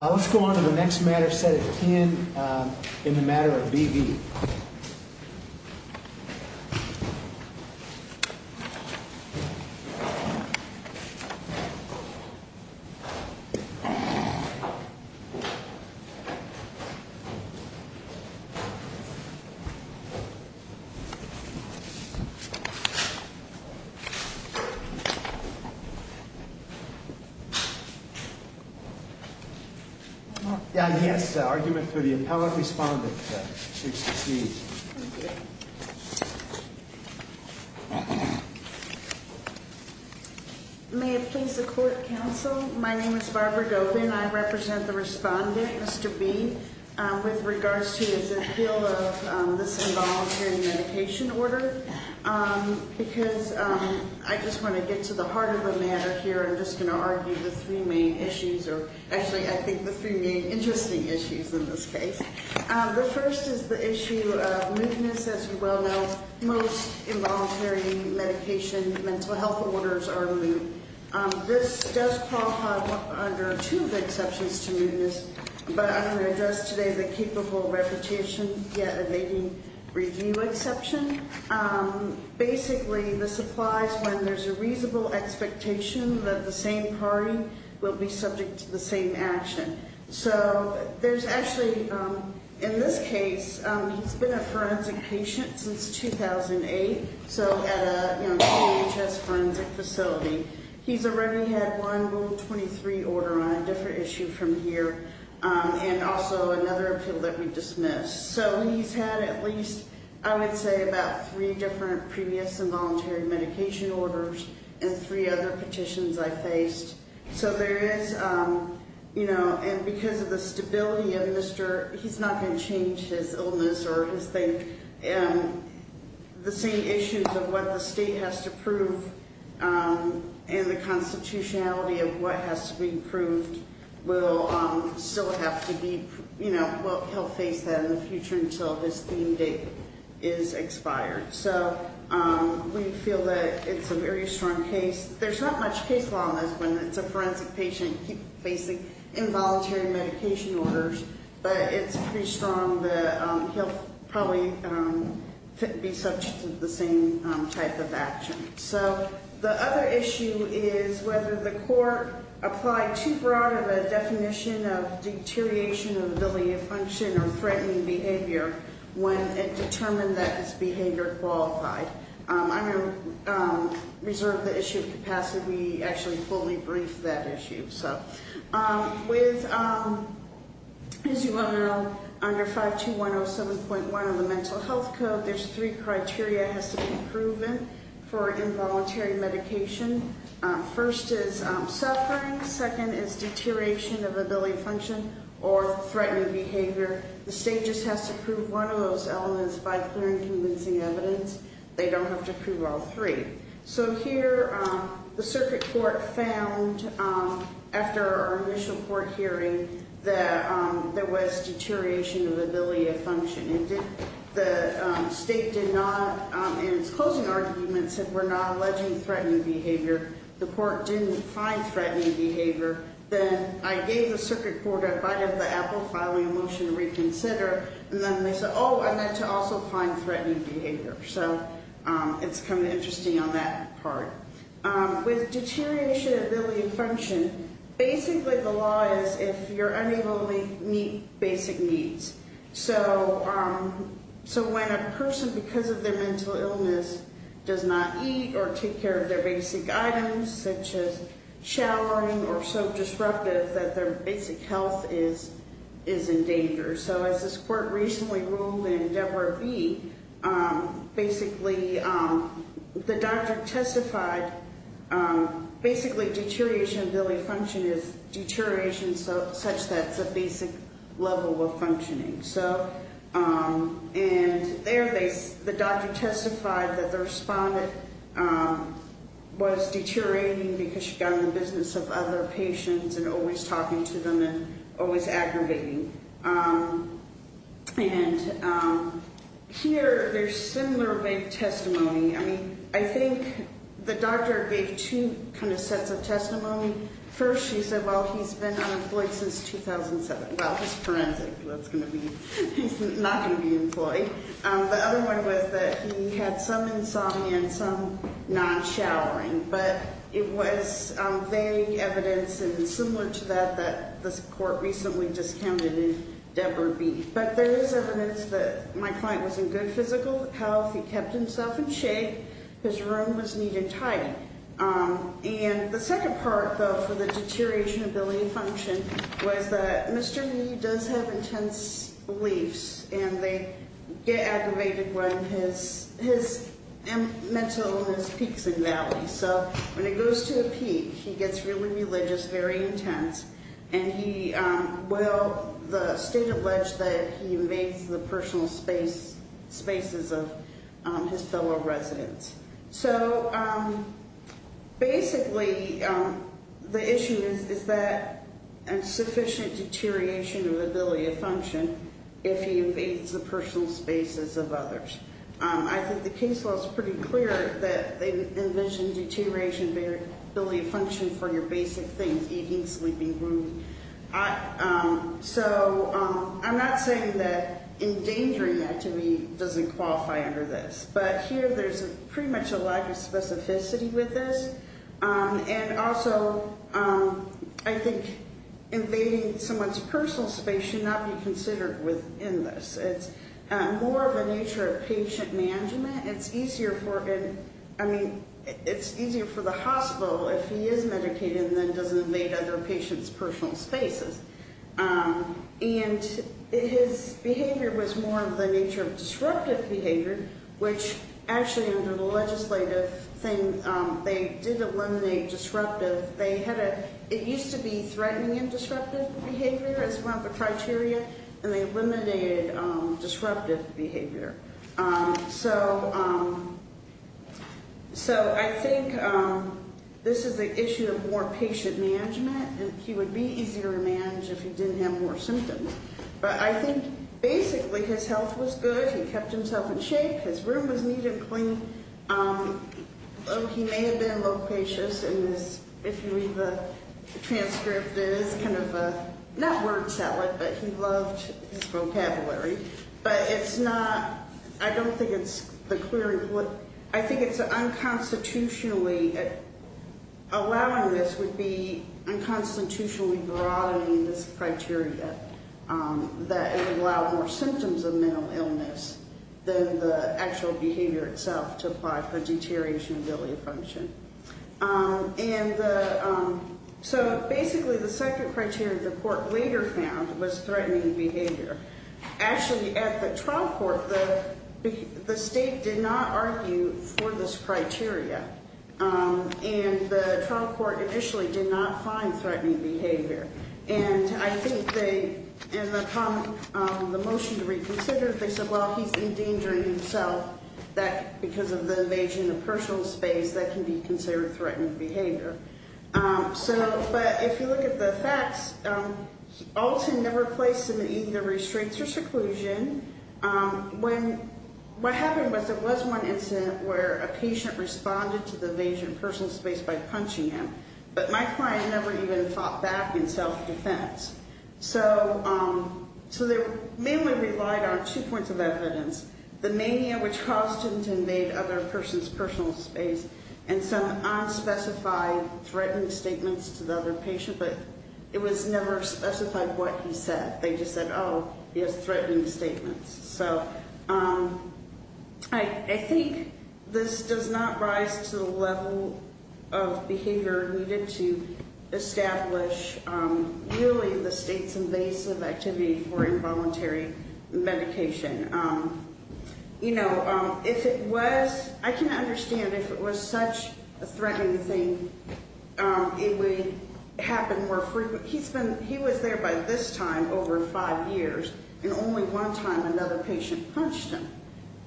Let's go on to the next matter set at 10 in the Matter of V.V. Yes, argument to the appellate respondent. May it please the court counsel, my name is Barbara Gopin. I represent the respondent, Mr. B, with regards to his appeal of this involuntary medication order. Because I just want to get to the heart of the matter here. I'm just going to argue the three main issues. Actually, I think the three main interesting issues in this case. The first is the issue of mootness. As you well know, most involuntary medication, mental health orders are moot. This does qualify under two of the exceptions to mootness. But I'm going to address today the capable reputation yet evading review exception. Basically, this applies when there's a reasonable expectation that the same party will be subject to the same action. So, there's actually, in this case, he's been a forensic patient since 2008. So, at a DHS forensic facility. He's already had one Moot 23 order on a different issue from here. And also another appeal that we dismissed. So, he's had at least, I would say, about three different previous involuntary medication orders. And three other petitions I faced. So, there is, you know, and because of the stability of Mr. He's not going to change his illness or his thing. And the same issues of what the state has to prove and the constitutionality of what has to be proved will still have to be, you know, he'll face that in the future until his theme date is expired. So, we feel that it's a very strong case. There's not much case law on this one. It's a forensic patient facing involuntary medication orders. But it's pretty strong that he'll probably be subject to the same type of action. So, the other issue is whether the court applied too broad of a definition of deterioration of ability to function or threatening behavior when it determined that his behavior qualified. I'm going to reserve the issue of capacity. We actually fully briefed that issue. So, with, as you well know, under 52107.1 of the Mental Health Code, there's three criteria it has to be proven for involuntary medication. First is suffering. Second is deterioration of ability to function or threatening behavior. The state just has to prove one of those elements by clear and convincing evidence. They don't have to prove all three. So, here, the circuit court found, after our initial court hearing, that there was deterioration of ability of function. And the state did not, in its closing argument, said we're not alleging threatening behavior. The court didn't find threatening behavior. Then I gave the circuit court a bite of the apple, filing a motion to reconsider. And then they said, oh, I meant to also find threatening behavior. So, it's kind of interesting on that part. With deterioration of ability to function, basically the law is if you're unable to meet basic needs. So, when a person, because of their mental illness, does not eat or take care of their basic items, such as showering or soap disruptive, that their basic health is in danger. So, as this court recently ruled in Debra B., basically, the doctor testified, basically, deterioration of ability to function is deterioration such that it's a basic level of functioning. And there, the doctor testified that the respondent was deteriorating because she got in the business of other patients and always talking to them and always aggravating. And here, there's similar vague testimony. I mean, I think the doctor gave two kind of sets of testimony. First, she said, well, he's been unemployed since 2007. Well, he's forensic. That's going to be, he's not going to be employed. The other one was that he had some insomnia and some non-showering. But it was vague evidence and similar to that that this court recently discounted in Debra B. But there is evidence that my client was in good physical health. He kept himself in shape. His room was neat and tidy. And the second part, though, for the deterioration of ability to function was that Mr. Nee does have intense beliefs, and they get aggravated when his mental peaks in value. So, when it goes to a peak, he gets really religious, very intense. And he will, the state alleged that he invades the personal spaces of his fellow residents. So, basically, the issue is that sufficient deterioration of ability to function if he invades the personal spaces of others. I think the case law is pretty clear that they envision deterioration of ability to function for your basic things, eating, sleeping, rooming. So, I'm not saying that endangering that to me doesn't qualify under this. But here, there's pretty much a lack of specificity with this. And also, I think invading someone's personal space should not be considered within this. It's more of a nature of patient management. It's easier for, I mean, it's easier for the hospital if he is medicated and then doesn't invade other patients' personal spaces. And his behavior was more of the nature of disruptive behavior, which actually under the legislative thing, they did eliminate disruptive. They had a, it used to be threatening and disruptive behavior as one of the criteria, and they eliminated disruptive behavior. So, I think this is an issue of more patient management, and he would be easier to manage if he didn't have more symptoms. But I think, basically, his health was good. He kept himself in shape. His room was neat and clean. He may have been loquacious in this. If you read the transcript, it is kind of a, not word salad, but he loved his vocabulary. But it's not, I don't think it's the clear, I think it's unconstitutionally, allowing this would be unconstitutionally broadening this criteria, that it would allow more symptoms of mental illness than the actual behavior itself to apply for deterioration ability function. And so, basically, the second criteria the court later found was threatening behavior. Actually, at the trial court, the state did not argue for this criteria. And the trial court initially did not find threatening behavior. And I think they, in the motion to reconsider, they said, well, he's endangering himself. That, because of the evasion of personal space, that can be considered threatening behavior. So, but if you look at the facts, Alton never placed him in either restraints or seclusion. When, what happened was, there was one incident where a patient responded to the evasion of personal space by punching him. But my client never even fought back in self-defense. So, they mainly relied on two points of evidence. The mania, which caused him to invade other person's personal space, and some unspecified threatening statements to the other patient. But it was never specified what he said. They just said, oh, he has threatening statements. So, I think this does not rise to the level of behavior needed to establish, really, the state's invasive activity for involuntary medication. You know, if it was, I can understand if it was such a threatening thing, it would happen more frequently. But he's been, he was there by this time, over five years, and only one time another patient punched him.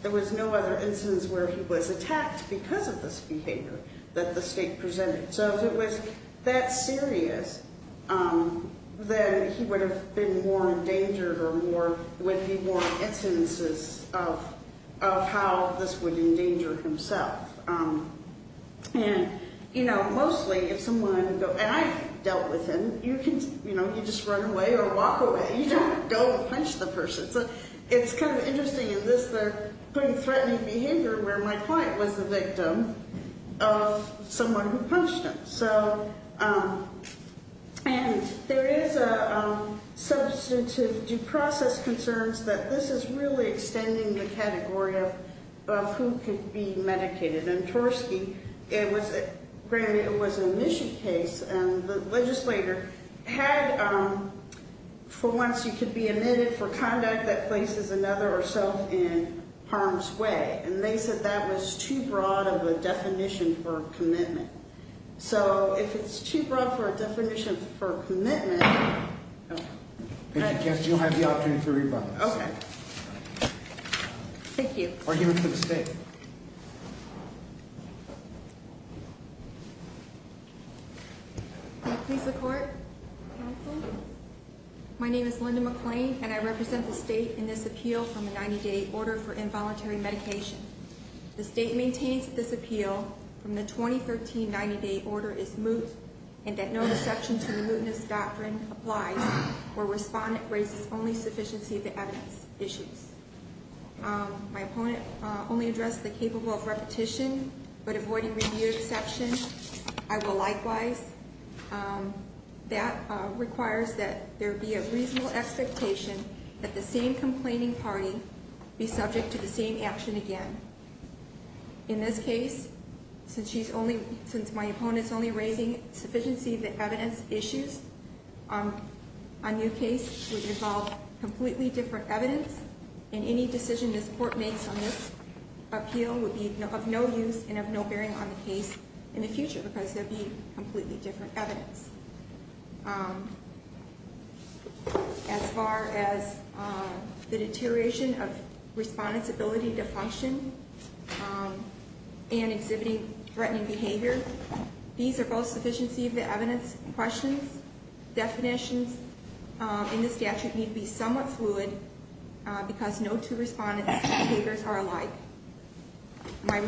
There was no other instance where he was attacked because of this behavior that the state presented. So, if it was that serious, then he would have been more endangered or more, would be more in instances of how this would endanger himself. And, you know, mostly if someone, and I've dealt with him, you can, you know, you just run away or walk away. You don't go and punch the person. So, it's kind of interesting in this, they're putting threatening behavior where my client was the victim of someone who punched him. So, and there is a substantive due process concerns that this is really extending the category of who could be medicated. And Torski, it was, granted, it was an admission case, and the legislator had for once you could be admitted for conduct that places another or self in harm's way. And they said that was too broad of a definition for commitment. So, if it's too broad for a definition for commitment. You have the opportunity for rebuttal. Okay. Thank you. Argument for the state. Please support. My name is Linda McClain, and I represent the state in this appeal from the 90 day order for involuntary medication. The state maintains this appeal from the 2013 90 day order is moot. And that no exception to the mootness doctrine applies, or respondent raises only sufficiency of the evidence issues. My opponent only addressed the capable of repetition, but avoiding review exception, I will likewise. That requires that there be a reasonable expectation that the same complaining party be subject to the same action again. In this case, since she's only, since my opponent's only raising sufficiency of the evidence issues. A new case would involve completely different evidence. And any decision this court makes on this appeal would be of no use and of no bearing on the case in the future. Because there'd be completely different evidence. As far as the deterioration of respondents' ability to function and exhibiting threatening behavior. These are both sufficiency of the evidence questions. Definitions in the statute need to be somewhat fluid because no two respondents' behaviors are alike. My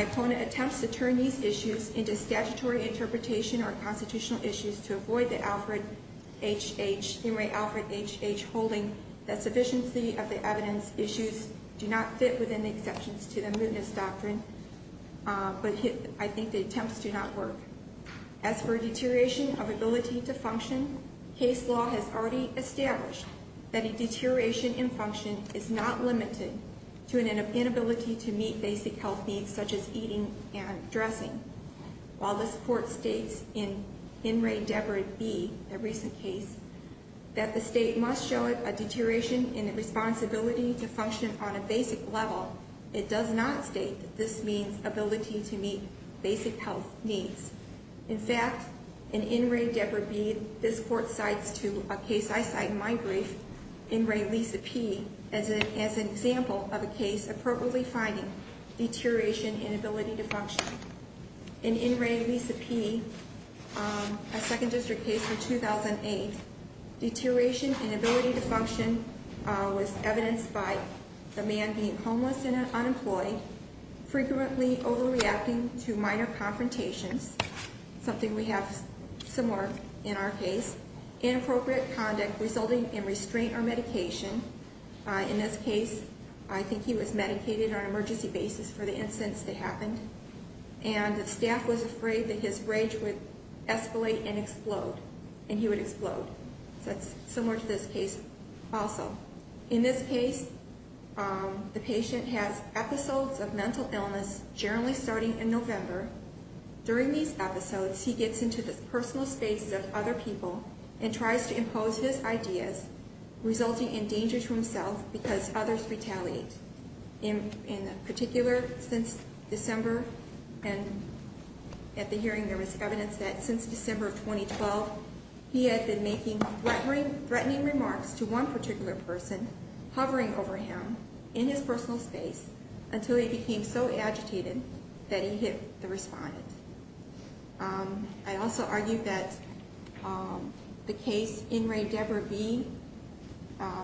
opponent attempts to turn these issues into statutory interpretation or constitutional issues to avoid the Alfred H. H. Henry Alfred H. H. holding that sufficiency of the evidence issues do not fit within the exceptions to the mootness doctrine. But I think the attempts do not work. As for deterioration of ability to function. Case law has already established that a deterioration in function is not limited to an inability to meet basic health needs such as eating and dressing. While this court states in In Re Debrid B, a recent case, that the state must show a deterioration in the responsibility to function on a basic level. It does not state that this means ability to meet basic health needs. In fact, in In Re Debrid B, this court cites to a case I cite in my brief, In Re Lisa P, as an example of a case appropriately finding deterioration in ability to function. In In Re Lisa P, a second district case from 2008, deterioration in ability to function was evidenced by the man being homeless and unemployed, frequently overreacting to minor confrontations, something we have similar in our case, inappropriate conduct resulting in restraint or medication. In this case, I think he was medicated on an emergency basis for the incidents that happened. And the staff was afraid that his rage would escalate and explode, and he would explode. So that's similar to this case also. In this case, the patient has episodes of mental illness, generally starting in November. During these episodes, he gets into the personal spaces of other people and tries to impose his ideas, resulting in danger to himself because others retaliate. In particular, since December, and at the hearing there was evidence that since December of 2012, he had been making threatening remarks to one particular person, hovering over him in his personal space, until he became so agitated that he hit the respondent. I also argued that the case In Re Deborah B,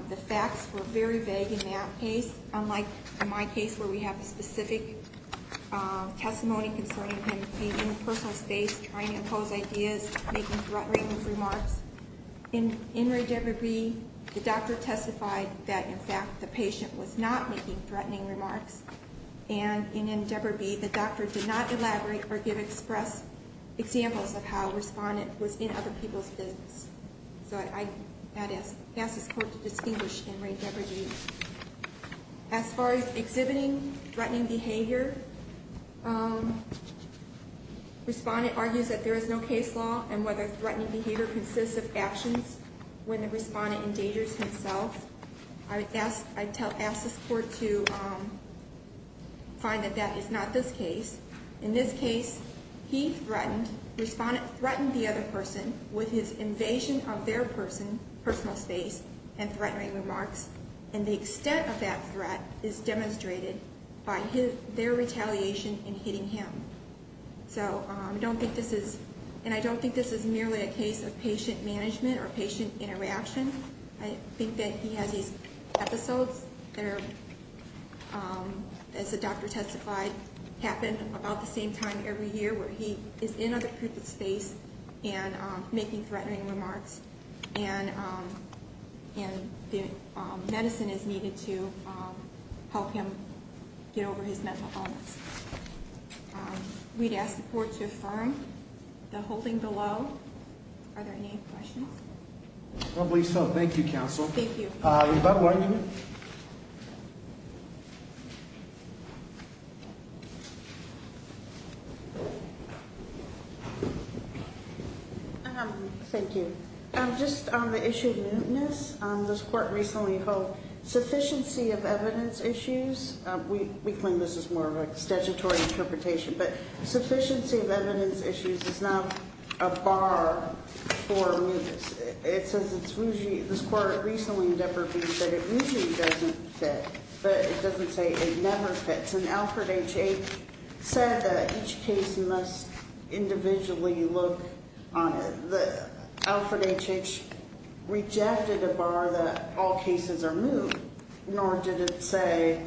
the facts were very vague in that case, unlike in my case where we have a specific testimony concerning him being in a personal space, trying to impose ideas, making threatening remarks. In In Re Deborah B, the doctor testified that, in fact, the patient was not making threatening remarks. And in In Deborah B, the doctor did not elaborate or give express examples of how a respondent was in other people's business. So I'd ask this court to distinguish In Re Deborah B. As far as exhibiting threatening behavior, respondent argues that there is no case law, and whether threatening behavior consists of actions when the respondent endangers himself. I'd ask this court to find that that is not this case. In this case, he threatened, respondent threatened the other person with his invasion of their person, personal space, and threatening remarks. And the extent of that threat is demonstrated by their retaliation in hitting him. So I don't think this is, and I don't think this is merely a case of patient management or patient interaction. I think that he has these episodes that are, as the doctor testified, happen about the same time every year, where he is in other people's space and making threatening remarks. And the medicine is needed to help him get over his mental illness. We'd ask the court to affirm the holding below. Are there any questions? Probably so. Thank you, counsel. Thank you. Ms. Butler. Thank you. Just on the issue of muteness, this court recently held sufficiency of evidence issues. We claim this is more of a statutory interpretation, but sufficiency of evidence issues is not a bar for muteness. It says it's usually, this court recently in Depper v. said it usually doesn't fit, but it doesn't say it never fits. And Alfred H. H. said that each case must individually look on it. But Alfred H. H. rejected a bar that all cases are moved, nor did it say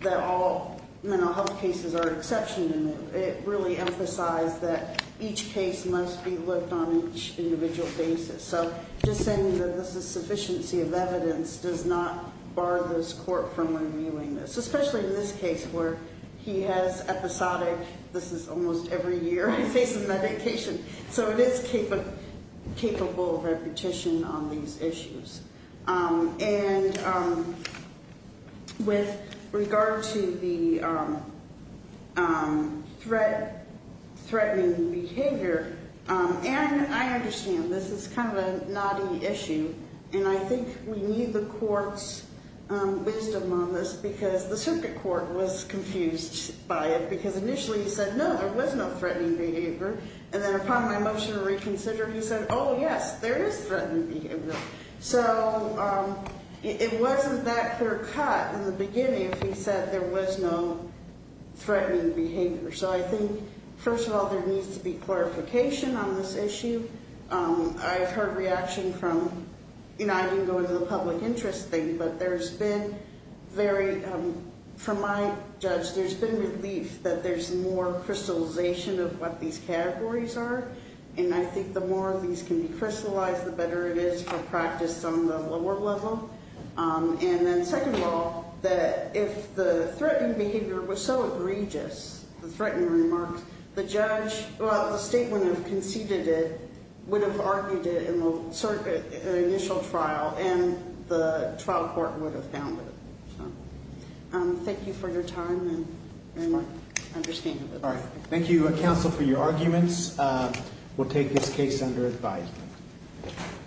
that all mental health cases are an exception to move. It really emphasized that each case must be looked on each individual basis. So just saying that this is sufficiency of evidence does not bar this court from reviewing this, especially in this case where he has episodic, this is almost every year he faces medication. So it is capable of repetition on these issues. And with regard to the threatening behavior, and I understand this is kind of a knotty issue, and I think we need the court's wisdom on this because the circuit court was confused by it because initially he said, no, there was no threatening behavior. And then upon my motion to reconsider, he said, oh, yes, there is threatening behavior. So it wasn't that clear cut in the beginning if he said there was no threatening behavior. So I think, first of all, there needs to be clarification on this issue. I've heard reaction from, you know, I didn't go into the public interest thing, but there's been very, from my judge, there's been relief that there's more crystallization of what these categories are. And I think the more of these can be crystallized, the better it is for practice on the lower level. And then second of all, that if the threatening behavior was so egregious, the threatening remarks, the judge, the state would have conceded it, would have argued it in the initial trial, and the trial court would have found it. Thank you for your time and understanding. All right. Thank you, counsel, for your arguments. We'll take this case under advisement.